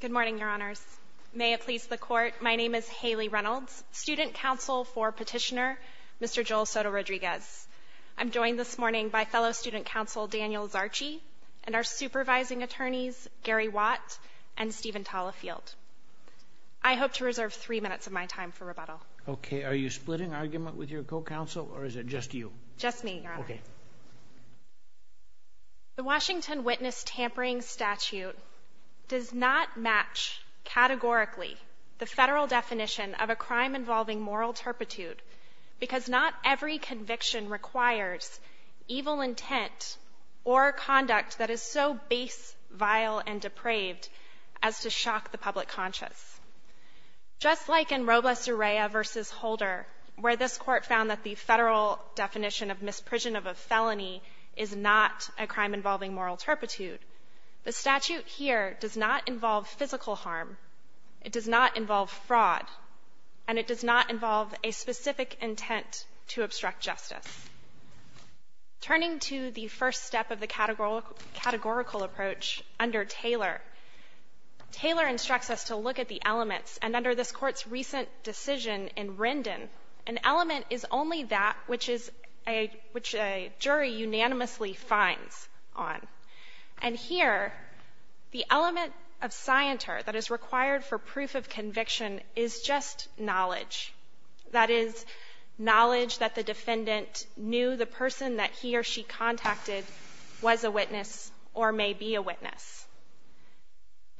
Good morning, Your Honors. May it please the Court, my name is Haley Reynolds, Student Counsel for Petitioner, Mr. Joel Soto-Rodriguez. I'm joined this morning by fellow Student Counsel Daniel Zarchi and our supervising attorneys, Gary Watt and Steven Talafield. I hope to reserve three minutes of my time for rebuttal. Okay, are you splitting argument with your co-counsel or is it just you? Just me, Your Honor. Okay. The Washington Witness Tampering Statute does not match categorically the federal definition of a crime involving moral turpitude because not every conviction requires evil intent or conduct that is so base, vile, and depraved as to shock the public conscious. Just like in Robles-Urrea v. Holder, where this Court found that the federal definition of misprision of a felony is not a crime involving moral turpitude, the statute here does not involve physical harm, it does not involve fraud, and it does not involve a specific intent to obstruct justice. Turning to the first step of the categorical approach under Taylor, Taylor instructs us to look at the elements, and under this Court's recent decision in Rindon, an element is only that which a jury unanimously finds on. And here, the element of scienter that is required for proof of conviction is just knowledge. That is, knowledge that the defendant knew the person that he or she contacted was a witness or may be a witness.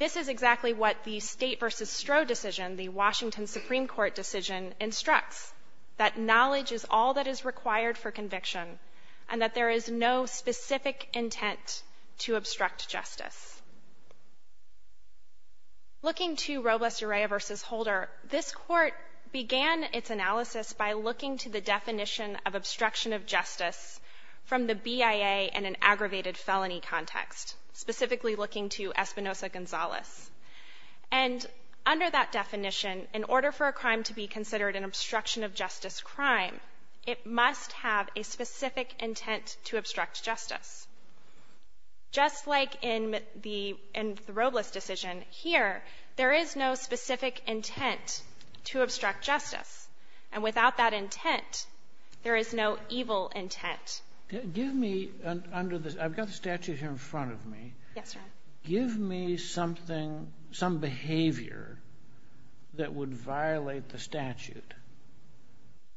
This is exactly what the State v. Stroh decision, the Washington Supreme Court decision, instructs, that knowledge is all that is required for conviction and that there is no specific intent to obstruct justice. Looking to Robles-Urrea v. Holder, this Court began its analysis by looking to the definition of obstruction of justice from the BIA and an aggravated felony context, specifically looking to Espinosa-Gonzalez. And under that definition, in order for a crime to be considered an obstruction of justice crime, it must have a specific intent to obstruct justice. Just like in the Robles decision, here, there is no specific intent to obstruct justice, and without that intent, there is no evil intent. Give me, under this, I've got the statute here in front of me, give me something, some violate the statute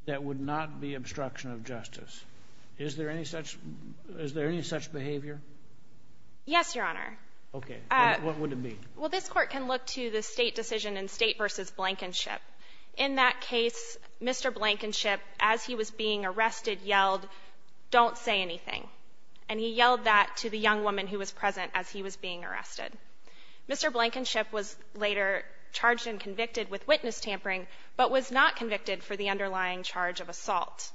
that would not be obstruction of justice. Is there any such behavior? Yes, Your Honor. Okay. What would it be? Well, this Court can look to the State decision in State v. Blankenship. In that case, Mr. Blankenship, as he was being arrested, yelled, don't say anything. And he yelled that to the young woman who was present as he was being arrested. Mr. Blankenship was later charged and convicted with witness tampering, but was not convicted for the underlying charge of assault.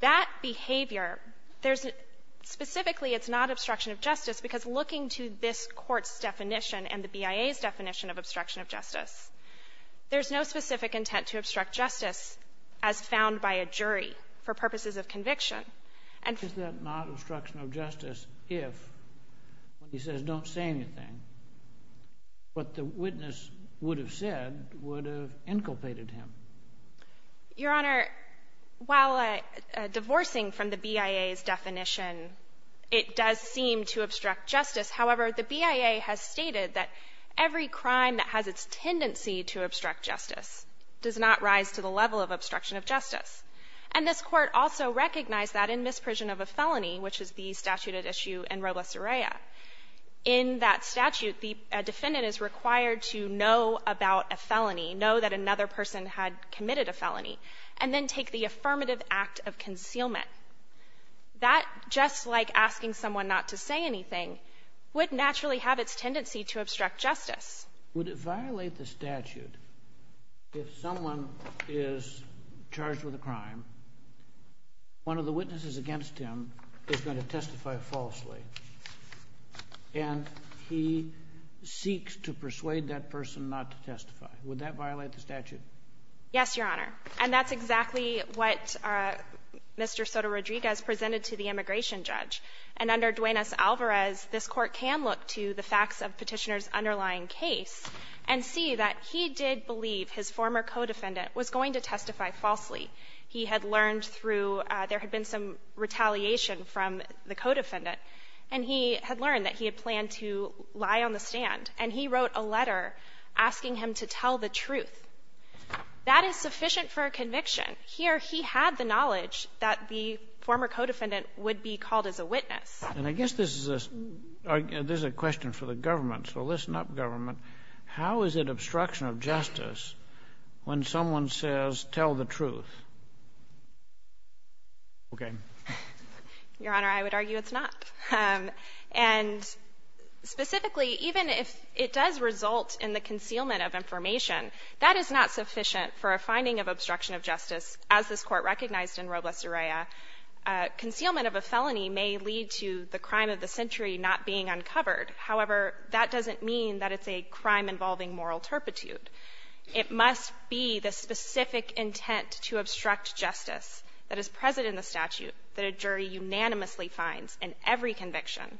That behavior, there's a, specifically it's not obstruction of justice because looking to this Court's definition and the BIA's definition of obstruction of justice, there's no specific intent to obstruct justice as found by a jury for purposes of conviction. Is that not obstruction of justice if he says don't say anything, what the witness would have said would have inculpated him? Your Honor, while divorcing from the BIA's definition, it does seem to obstruct justice. However, the BIA has stated that every crime that has its tendency to obstruct justice does not rise to the level of obstruction of justice. And this Court also recognized that in misprision of a felony, which is the statute at issue in Robles-Urrea, in that statute the defendant is required to know about a felony, know that another person had committed a felony, and then take the affirmative act of concealment. That, just like asking someone not to say anything, would naturally have its tendency to obstruct justice. Would it violate the statute if someone is charged with a crime, one of the witnesses against him is going to testify falsely, and he seeks to persuade that person not to testify? Would that violate the statute? Yes, Your Honor. And that's exactly what Mr. Soto-Rodriguez presented to the immigration judge. And under Duenas-Alvarez, this Court can look to the facts of petitioner's underlying case and see that he did believe his former co-defendant was going to testify falsely. He had learned through, there had been some retaliation from the co-defendant, and he had learned that he had planned to lie on the stand. And he wrote a letter asking him to tell the truth. That is sufficient for a conviction. Here, he had the knowledge that the former co-defendant would be called as a witness. And I guess this is a question for the government. So listen up, government. How is it obstruction of justice when someone says, tell the truth? Your Honor, I would argue it's not. And specifically, even if it does result in the concealment of information, that is not sufficient for a finding of obstruction of justice, as this crime of the century not being uncovered. However, that doesn't mean that it's a crime involving moral turpitude. It must be the specific intent to obstruct justice that is present in the statute that a jury unanimously finds in every conviction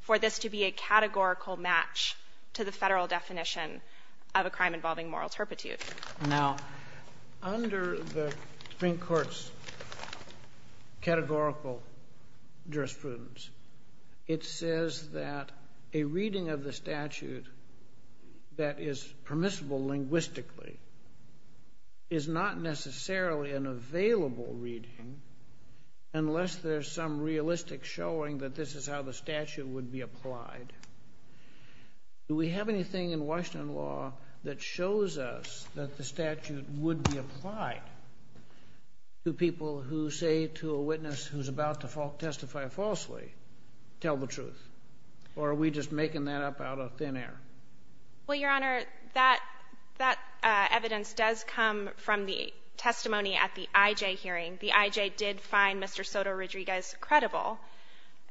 for this to be a categorical match to the Federal definition of a crime involving moral turpitude. Now, under the Supreme Court's categorical jurisprudence, it says that a reading of the statute that is permissible linguistically is not necessarily an available reading unless there's some realistic showing that this is how the statute would be applied. Do we have the evidence that the statute would be applied to people who say to a witness who's about to testify falsely, tell the truth? Or are we just making that up out of thin air? Well, Your Honor, that evidence does come from the testimony at the IJ hearing. The IJ did find Mr. Soto-Rodriguez credible.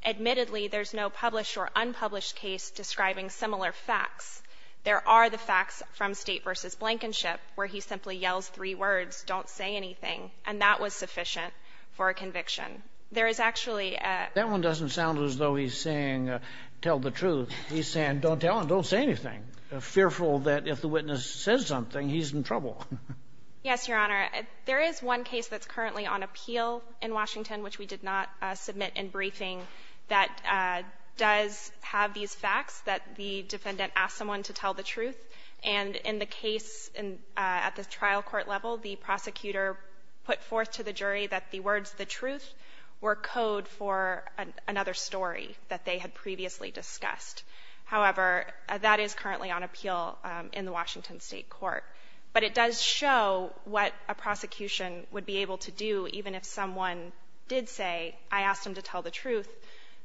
Admittedly, there's no published or unpublished case describing similar facts. There are the facts from State v. Blankenship where he simply yells three words, don't say anything, and that was sufficient for a conviction. There is actually a — That one doesn't sound as though he's saying, tell the truth. He's saying, don't tell him, don't say anything, fearful that if the witness says something, he's in trouble. Yes, Your Honor. There is one case that's currently on appeal in Washington, which we defendant asked someone to tell the truth. And in the case at the trial court level, the prosecutor put forth to the jury that the words, the truth, were code for another story that they had previously discussed. However, that is currently on appeal in the Washington State court. But it does show what a prosecution would be able to do even if someone did say, I asked him to tell the truth,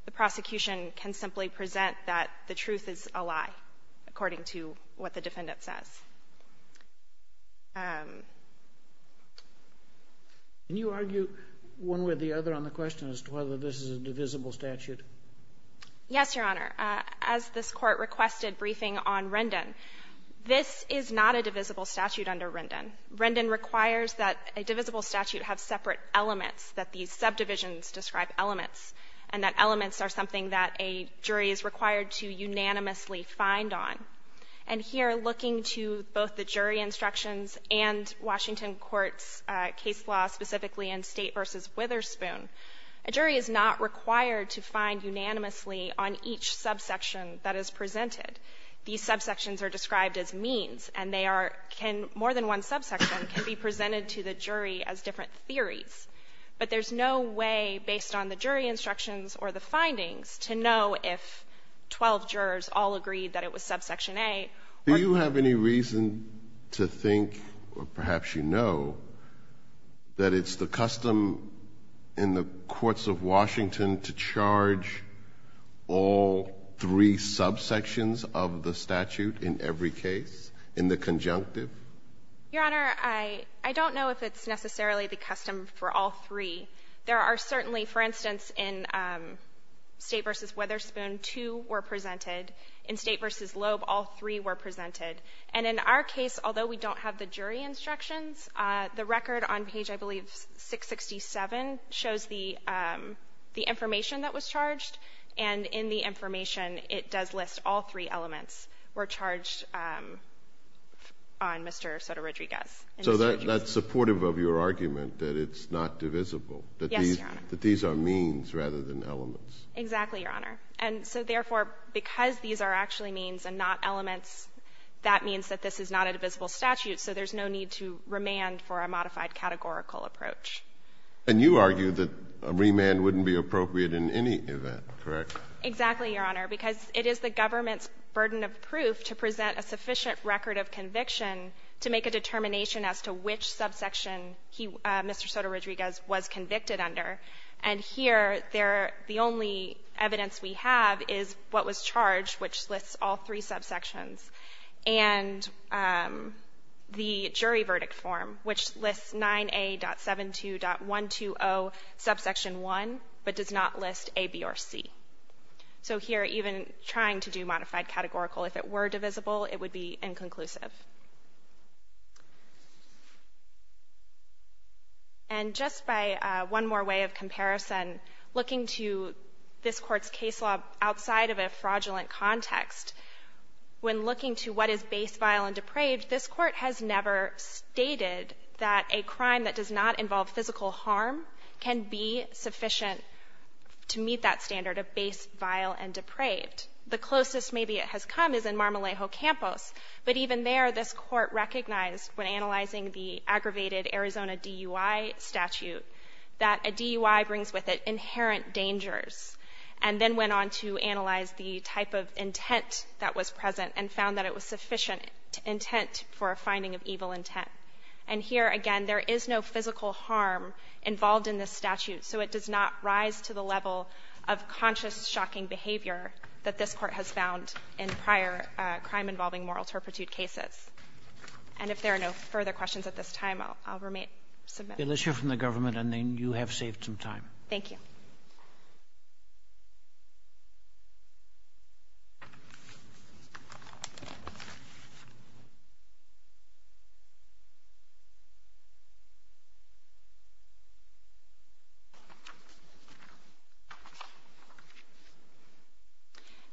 the prosecution can simply present that the evidence is a lie, according to what the defendant says. Can you argue one way or the other on the question as to whether this is a divisible statute? Yes, Your Honor. As this court requested briefing on Rendon, this is not a divisible statute under Rendon. Rendon requires that a divisible statute have separate elements, that these subdivisions describe elements, and that elements are something that a jury is required to unanimously find on. And here, looking to both the jury instructions and Washington court's case law, specifically in State v. Witherspoon, a jury is not required to find unanimously on each subsection that is presented. These subsections are described as means, and they are can, more than one subsection can be presented to the jury as different theories. But there's no way, based on the jury instructions or the findings, to know if twelve jurors all agreed that it was subsection A. Do you have any reason to think, or perhaps you know, that it's the custom in the courts of Washington to charge all three subsections of the statute in every case, in the conjunctive? Your Honor, I don't know if it's necessarily the custom for all three. There are certainly, for instance, in State v. Witherspoon, two were presented. In State v. Loeb, all three were presented. And in our case, although we don't have the jury instructions, the record on page, I believe, 667, shows the information that was charged, and in the information, it does list all three elements were charged on Mr. Sotorodriguez. So that's supportive of your argument, that it's not divisible? Yes, Your Honor. That these are means rather than elements? Exactly, Your Honor. And so therefore, because these are actually means and not elements, that means that this is not a divisible statute, so there's no need to remand for a modified categorical approach. And you argue that a remand wouldn't be appropriate in any event, correct? Exactly, Your Honor, because it is the government's burden of proof to present a sufficient record of conviction to make a determination as to which subsection Mr. Sotorodriguez was convicted under. And here, the only evidence we have is what was charged, which lists all three subsections, and the jury verdict form, which lists 9A.72.120, subsection 1, but does not list A, B, or C. So here, even trying to do modified categorical, if it were divisible, it would be inconclusive. And just by one more way of comparison, looking to this Court's case law outside of a fraudulent context, when looking to what is base, vile, and depraved, this Court has never stated that a crime that does not involve physical harm can be sufficient to meet that standard of base, vile, and depraved. The closest maybe it has come is in Marmolejo Campos, but even there, this Court recognized, when analyzing the aggravated Arizona DUI statute, that a DUI brings with it inherent dangers, and then went on to analyze the type of intent that was present and found that it was sufficient intent for a finding of evil intent. And here, again, there is no physical harm involved in this statute, so it does not rise to the level of conscious, shocking behavior that this Court has found in prior crime-involving moral turpitude cases. And if there are no further questions at this time, I'll remain submissive. Let's hear from the government, and then you have saved some time. Thank you.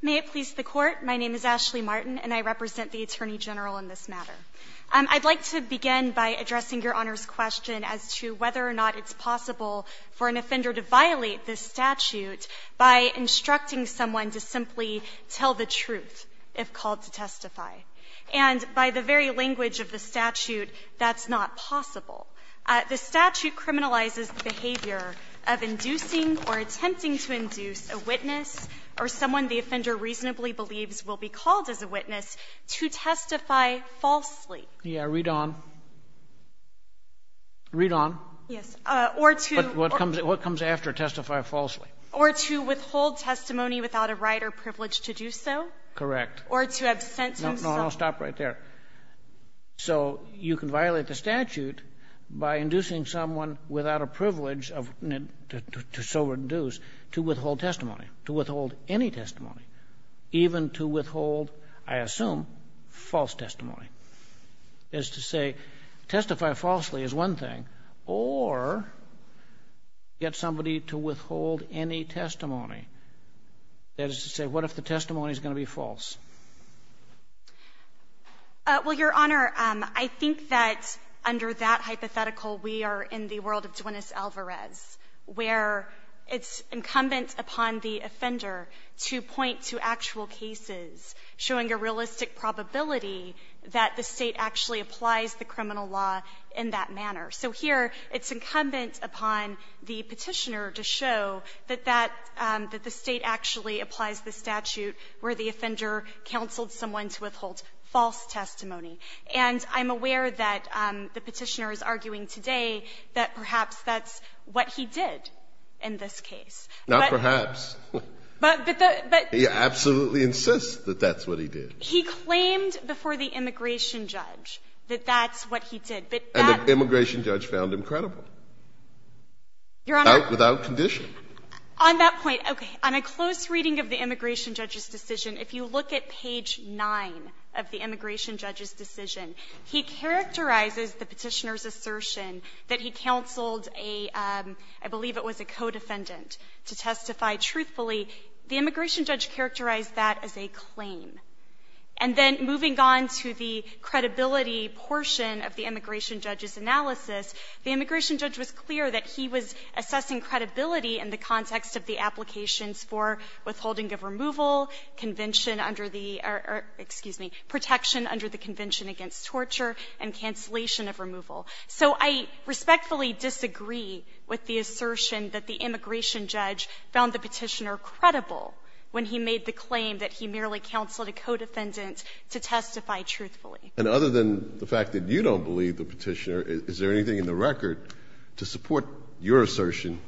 May it please the Court. My name is Ashley Martin, and I represent the Attorney General in this matter. I'd like to begin by addressing Your Honor's question as to whether or not it's possible for an offender to violate this statute by instructing someone to simply tell the truth if called to testify. And by the very language of the statute, that's not possible. The statute criminalizes the behavior of inducing or attempting to induce a witness or someone the offender reasonably believes will be called as a witness to testify falsely. Yes. Read on. Read on. Yes. Or to But what comes after testify falsely? Or to withhold testimony without a right or privilege to do so? Correct. Or to absent himself No, no. Stop right there. So you can violate the statute by inducing someone without a privilege to so reduce to withhold testimony, to withhold any testimony, even to withhold, I assume, false testimony. That is to say, testify falsely is one thing, or get somebody to withhold any testimony. That is to say, what if the testimony is going to be false? Well, Your Honor, I think that under that hypothetical, we are in the world of Duenes Alvarez, where it's incumbent upon the offender to point to actual cases showing a realistic probability that the State actually applies the criminal law in that manner. So here, it's incumbent upon the Petitioner to show that that, that the State actually applies the statute where the offender counseled someone to withhold false testimony. And I'm aware that the Petitioner is arguing today that perhaps that's what he did in this case. Not perhaps. But, but the, but He absolutely insists that that's what he did. He claimed before the immigration judge that that's what he did. But that And the immigration judge found him credible. Your Honor Without condition. On that point, okay. On a close reading of the immigration judge's decision, if you look at page 9 of the immigration judge's decision, he characterizes the Petitioner's assertion that he counseled a, I believe it was a co-defendant to testify truthfully. The immigration judge characterized that as a claim. And then moving on to the credibility portion of the immigration judge's analysis, the immigration judge was clear that he was assessing credibility in the context of the applications for withholding of removal, convention under the, excuse me, protection under the convention against torture, and cancellation of removal. So I respectfully disagree with the assertion that the immigration judge found the Petitioner credible when he made the claim that he merely counseled a co-defendant to testify truthfully. And other than the fact that you don't believe the Petitioner, is there anything in the record to support your assertion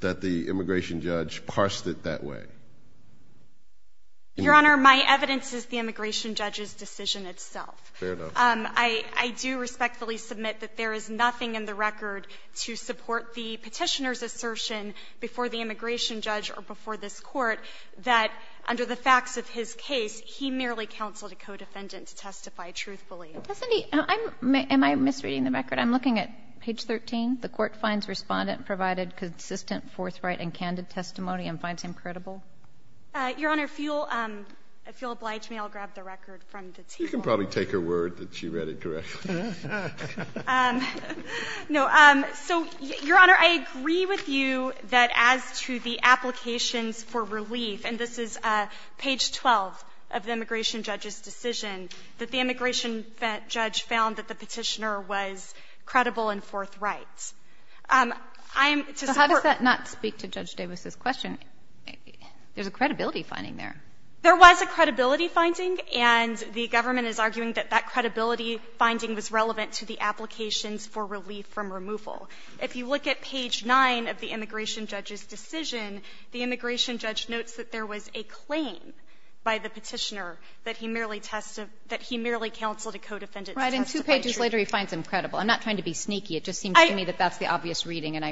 that the immigration judge parsed it that way? Your Honor, my evidence is the immigration judge's decision itself. Fair enough. I do respectfully submit that there is nothing in the record to support the Petitioner's assertion before the immigration judge or before this Court that under the facts of his case, he merely counseled a co-defendant to testify truthfully. Am I misreading the record? I'm looking at page 13. The Court finds Respondent provided consistent, forthright, and candid testimony and finds him credible. Your Honor, if you'll oblige me, I'll grab the record from the table. You can probably take her word that she read it correctly. No. So, Your Honor, I agree with you that as to the applications for relief, and this is page 12 of the immigration judge's decision, that the immigration judge found that the Petitioner was credible and forthright. I am to support. So how does that not speak to Judge Davis's question? There's a credibility finding there. There was a credibility finding, and the government is arguing that that credibility finding was relevant to the applications for relief from removal. If you look at page 9 of the immigration judge's decision, the immigration judge notes that there was a claim by the Petitioner that he merely counseled a co-defendant to testify truthfully. Right. And two pages later, he finds him credible. I'm not trying to be sneaky. It just seems to me that that's the obvious reading.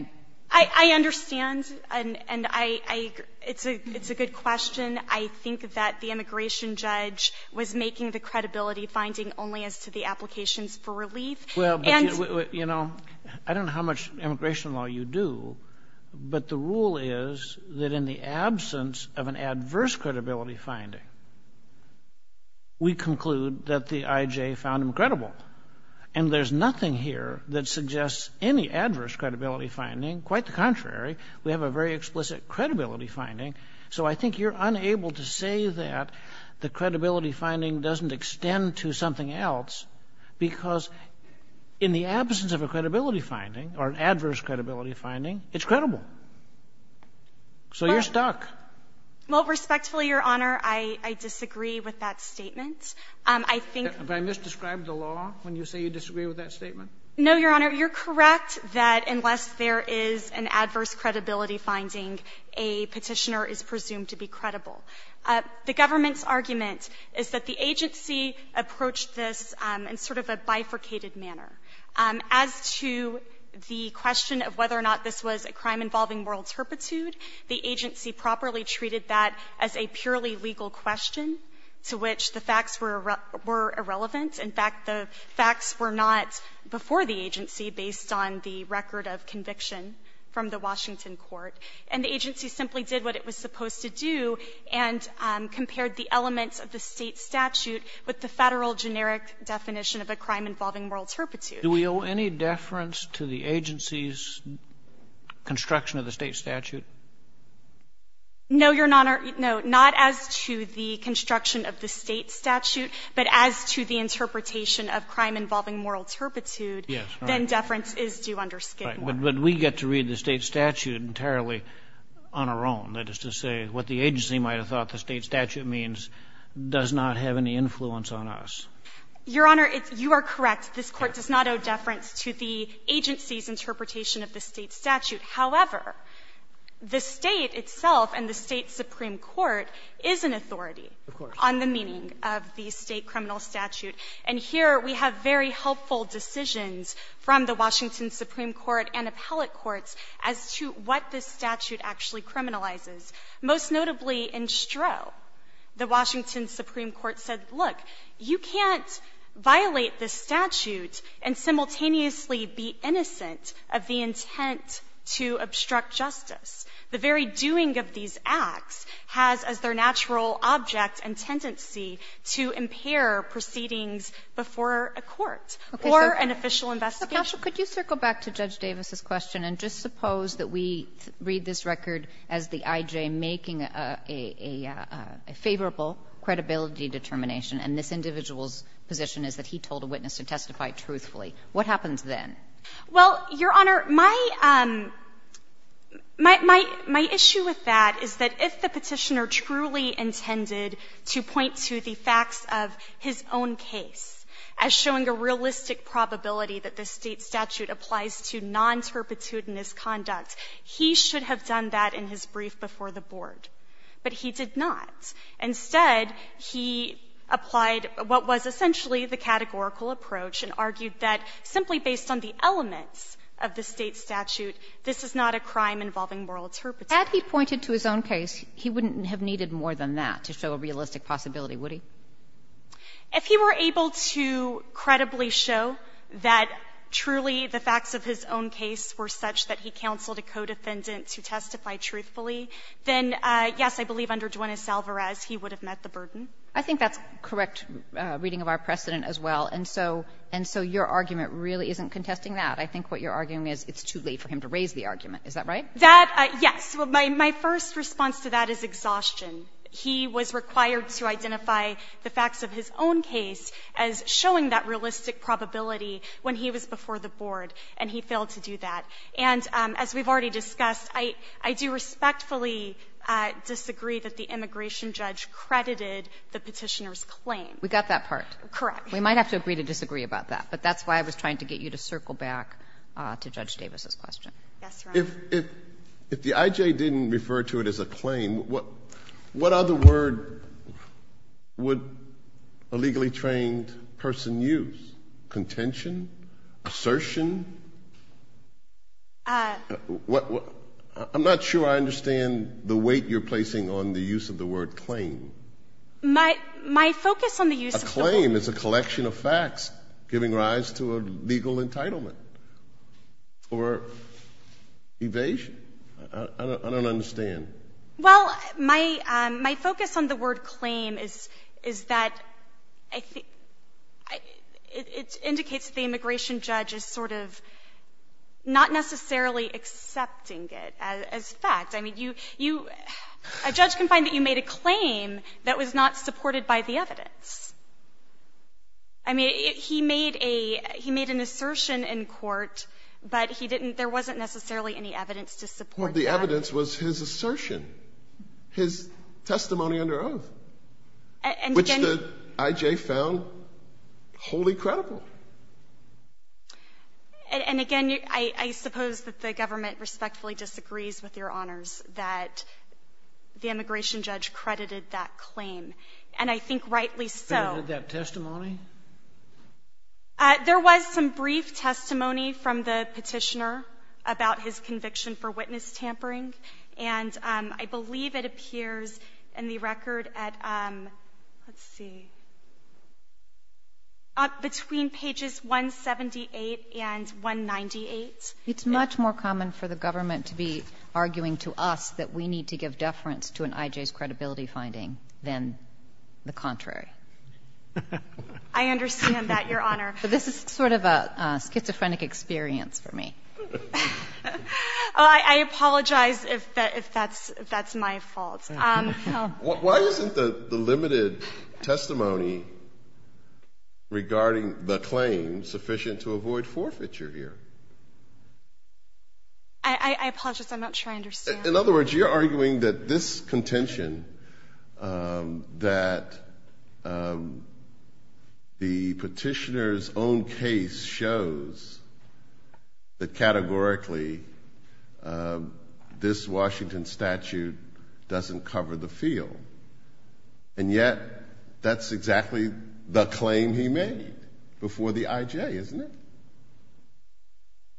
I understand, and it's a good question. I think that the immigration judge was making the credibility finding only as to the applications for relief. Well, but, you know, I don't know how much immigration law you do, but the rule is that in the absence of an adverse credibility finding, we conclude that the IJ found him credible. And there's nothing here that suggests any adverse credibility finding. Quite the contrary. We have a very explicit credibility finding. So I think you're unable to say that the credibility finding doesn't extend to an adverse credibility finding. It's credible. So you're stuck. Well, respectfully, Your Honor, I disagree with that statement. I think the law when you say you disagree with that statement. No, Your Honor. You're correct that unless there is an adverse credibility finding, a Petitioner is presumed to be credible. The government's argument is that the agency approached this in sort of a bifurcated manner. As to the question of whether or not this was a crime involving moral turpitude, the agency properly treated that as a purely legal question, to which the facts were irrelevant. In fact, the facts were not before the agency based on the record of conviction from the Washington court. And the agency simply did what it was supposed to do and compared the elements of the State statute with the Federal generic definition of a crime involving moral turpitude. Do we owe any deference to the agency's construction of the State statute? No, Your Honor. No. Not as to the construction of the State statute, but as to the interpretation of crime involving moral turpitude. Yes. Then deference is due under Skidmore. Right. But we get to read the State statute entirely on our own. That is to say, what the agency might have thought the State statute means does not have any influence on us. Your Honor, you are correct. This Court does not owe deference to the agency's interpretation of the State statute. However, the State itself and the State supreme court is an authority on the meaning of the State criminal statute. And here we have very helpful decisions from the Washington supreme court and appellate courts as to what this statute actually criminalizes, most notably in Stroh. The Washington supreme court said, look, you can't violate the statute and simultaneously be innocent of the intent to obstruct justice. The very doing of these acts has as their natural object and tendency to impair proceedings before a court or an official investigation. Kagan, could you circle back to Judge Davis's question and just suppose that we read this record as the I.J. making a favorable credibility determination, and this individual's position is that he told a witness to testify truthfully. What happens then? Well, Your Honor, my issue with that is that if the Petitioner truly intended to point to the facts of his own case as showing a realistic probability that the State statute applies to non-terpitudinous conduct, he should have done that in his brief before the Board, but he did not. Instead, he applied what was essentially the categorical approach and argued that simply based on the elements of the State statute, this is not a crime involving moral turpitude. Had he pointed to his own case, he wouldn't have needed more than that to show a realistic possibility, would he? If he were able to credibly show that truly the facts of his own case were such that he counseled a co-defendant to testify truthfully, then, yes, I believe under Duenes-Alvarez, he would have met the burden. I think that's correct reading of our precedent as well. And so your argument really isn't contesting that. I think what you're arguing is it's too late for him to raise the argument. Is that right? That, yes. My first response to that is exhaustion. He was required to identify the facts of his own case as showing that realistic probability when he was before the Board, and he failed to do that. And as we've already discussed, I do respectfully disagree that the immigration judge credited the Petitioner's claim. We got that part. Correct. We might have to agree to disagree about that. But that's why I was trying to get you to circle back to Judge Davis's question. Yes, Your Honor. If the I.J. didn't refer to it as a claim, what other word would a legally trained person use? Contention? Assertion? I'm not sure I understand the weight you're placing on the use of the word claim. My focus on the use of the word claim is a collection of facts giving rise to a evasion. I don't understand. Well, my focus on the word claim is that it indicates the immigration judge is sort of not necessarily accepting it as fact. I mean, a judge can find that you made a claim that was not supported by the evidence. I mean, he made a, he made an assertion in court, but he didn't, there wasn't necessarily any evidence to support that. Well, the evidence was his assertion, his testimony under oath, which the I.J. found wholly credible. And again, I suppose that the government respectfully disagrees with Your Honors that the immigration judge credited that claim. And I think rightly so. That testimony? There was some brief testimony from the petitioner about his conviction for witness tampering. And I believe it appears in the record at, let's see, between pages 178 and 198. It's much more common for the government to be arguing to us that we need to give more deference to an I.J.'s credibility finding than the contrary. I understand that, Your Honor. But this is sort of a schizophrenic experience for me. Oh, I apologize if that's my fault. Why isn't the limited testimony regarding the claim sufficient to avoid forfeiture I apologize. I'm not sure I understand. In other words, you're arguing that this contention, that the petitioner's own case shows that categorically this Washington statute doesn't cover the field. And yet, that's exactly the claim he made before the I.J., isn't it?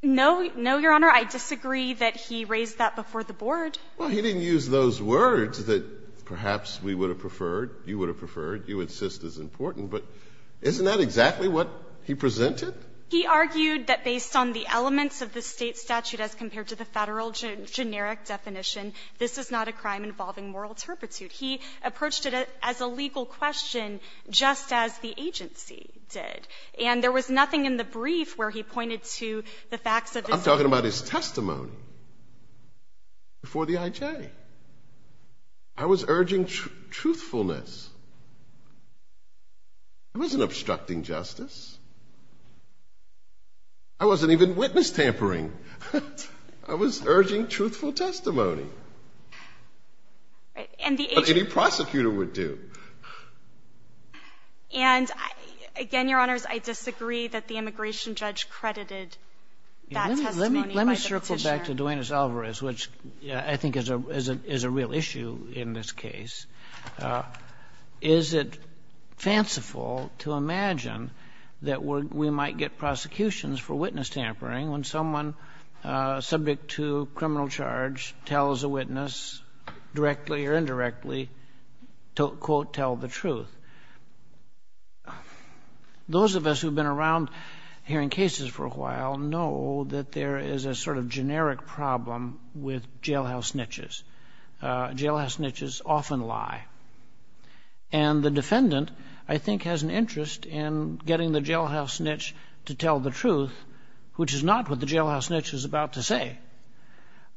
No. No, Your Honor. I disagree that he raised that before the Board. Well, he didn't use those words that perhaps we would have preferred, you would have preferred, you would insist is important. But isn't that exactly what he presented? He argued that based on the elements of the State statute as compared to the Federal generic definition, this is not a crime involving moral turpitude. He approached it as a legal question, just as the agency did. And there was nothing in the brief where he pointed to the facts of his I'm talking about his testimony before the I.J. I was urging truthfulness. I wasn't obstructing justice. I wasn't even witness tampering. I was urging truthful testimony. Right. But any prosecutor would do. And, again, Your Honors, I disagree that the immigration judge credited that testimony by the Petitioner. Let me circle back to Duenas-Alvarez, which I think is a real issue in this case. Is it fanciful to imagine that we might get prosecutions for witness tampering when someone subject to criminal charge tells a witness directly or indirectly quote, tell the truth? Those of us who've been around hearing cases for a while know that there is a sort of generic problem with jailhouse snitches. Jailhouse snitches often lie. And the defendant, I think, has an interest in getting the jailhouse snitch to tell the truth, which is not what the jailhouse snitch is about to say.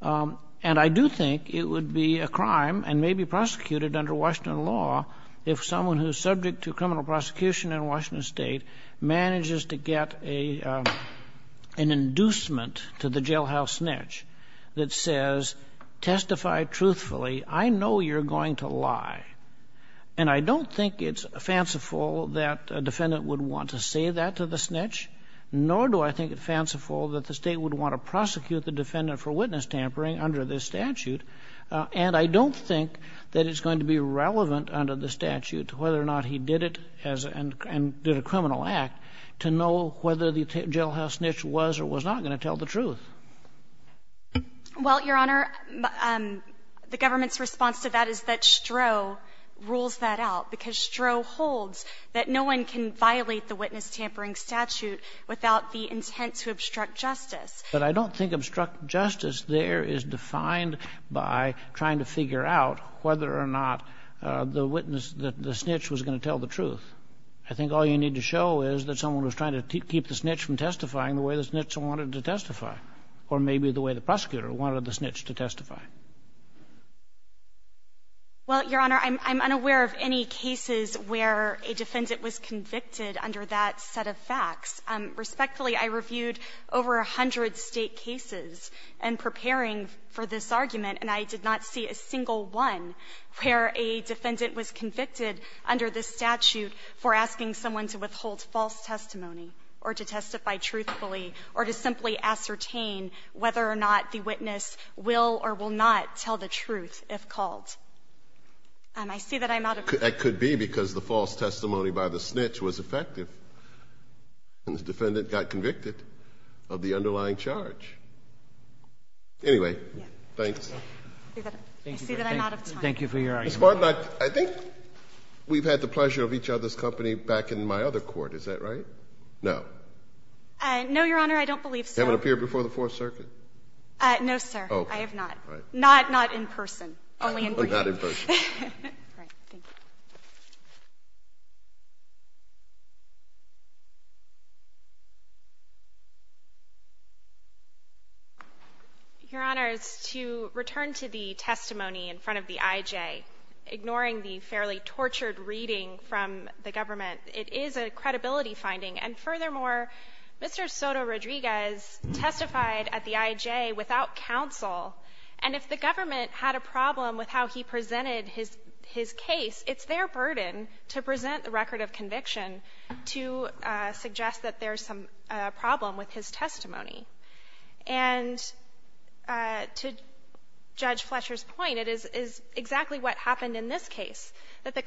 And I do think it would be a crime and maybe prosecuted under Washington law if someone who's subject to criminal prosecution in Washington State manages to get an inducement to the jailhouse snitch that says, testify truthfully. I know you're going to lie. And I don't think it's fanciful that a defendant would want to say that to the snitch, nor do I think it fanciful that the State would want to prosecute the defendant for witness tampering under this statute. And I don't think that it's going to be relevant under the statute whether or not he did it and did a criminal act to know whether the jailhouse snitch was or was not going to tell the truth. Well, Your Honor, the government's response to that is that Stroh rules that out, because Stroh holds that no one can violate the witness tampering statute without the intent to obstruct justice. But I don't think obstruct justice there is defined by trying to figure out whether or not the witness, the snitch, was going to tell the truth. I think all you need to show is that someone was trying to keep the snitch from testifying the way the snitch wanted to testify, or maybe the way the prosecutor wanted the snitch to testify. Well, Your Honor, I'm unaware of any cases where a defendant was convicted under that set of facts. Respectfully, I reviewed over 100 State cases in preparing for this argument, and I did not see a single one where a defendant was convicted under this statute for asking someone to withhold false testimony or to testify truthfully or to simply ascertain whether or not the witness will or will not tell the truth if called. I see that I'm out of time. That could be because the false testimony by the snitch was effective, and the defendant got convicted of the underlying charge. Anyway, thanks. I see that I'm out of time. Thank you for your argument. Ms. Bartlett, I think we've had the pleasure of each other's company back in my other court. Is that right? No. No, Your Honor, I don't believe so. You haven't appeared before the Fourth Circuit? No, sir. Okay. I have not. All right. Not in person, only in brief. Only not in person. All right. Thank you. Your Honors, to return to the testimony in front of the IJ, ignoring the fairly tortured reading from the government, it is a credibility finding. And furthermore, Mr. Soto-Rodriguez testified at the IJ without counsel, and if the government had a problem with how he presented his case, it's their burden to present the record of conviction to suggest that there's some problem with his testimony. And to Judge Fletcher's point, it is exactly what happened in this case, that the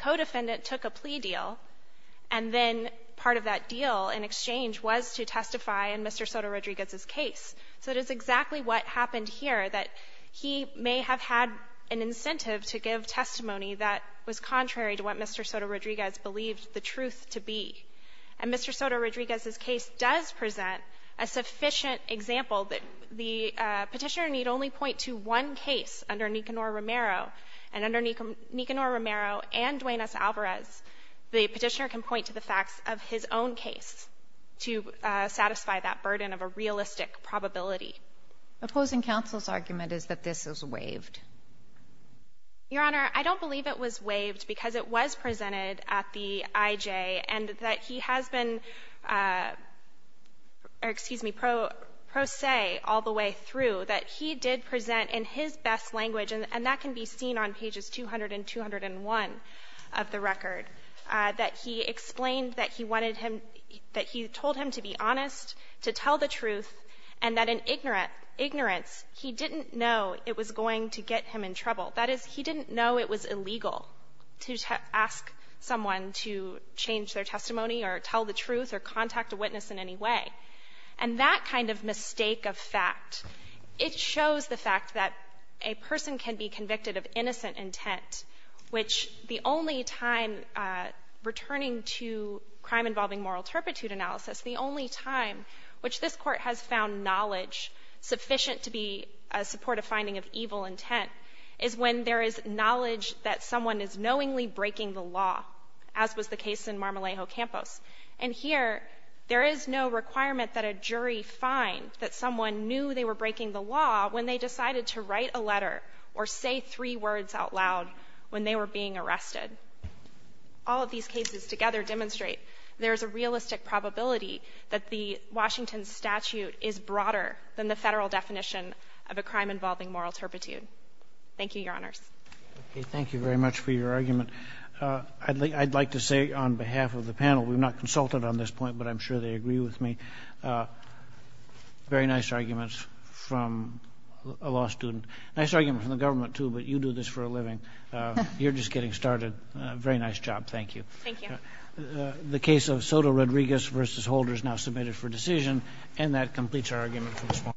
was to testify in Mr. Soto-Rodriguez's case. So it is exactly what happened here, that he may have had an incentive to give testimony that was contrary to what Mr. Soto-Rodriguez believed the truth to be. And Mr. Soto-Rodriguez's case does present a sufficient example that the Petitioner need only point to one case under Nicanor Romero. And under Nicanor Romero and Duane S. Alvarez, the Petitioner can point to the facts of his own case to satisfy that burden of a realistic probability. Opposing counsel's argument is that this is waived. Your Honor, I don't believe it was waived because it was presented at the IJ and that he has been pro se all the way through, that he did present in his best language, and that can be seen on pages 200 and 201 of the record, that he explained that he wanted him, that he told him to be honest, to tell the truth, and that in ignorance, he didn't know it was going to get him in trouble. That is, he didn't know it was illegal to ask someone to change their testimony or tell the truth or contact a witness in any way. And that kind of mistake of fact, it shows the fact that a person can be convicted of innocent intent, which the only time, returning to crime involving moral turpitude analysis, the only time which this Court has found knowledge sufficient to be a supportive finding of evil intent is when there is knowledge that someone is knowingly breaking the law, as was the case in Marmolejo Campos. And here, there is no requirement that a jury find that someone knew they were breaking the law when they decided to write a letter or say three words out loud when they were being arrested. All of these cases together demonstrate there is a realistic probability that the Washington statute is broader than the Federal definition of a crime involving moral turpitude. Thank you, Your Honors. Thank you very much for your argument. I'd like to say on behalf of the panel, we're not consulted on this point, but I'm sure they agree with me. Very nice arguments from a law student. Nice argument from the government, too, but you do this for a living. You're just getting started. Very nice job. Thank you. Thank you. The case of Soto-Rodriguez v. Holder is now submitted for decision, and that completes our argument for this morning. Thank you.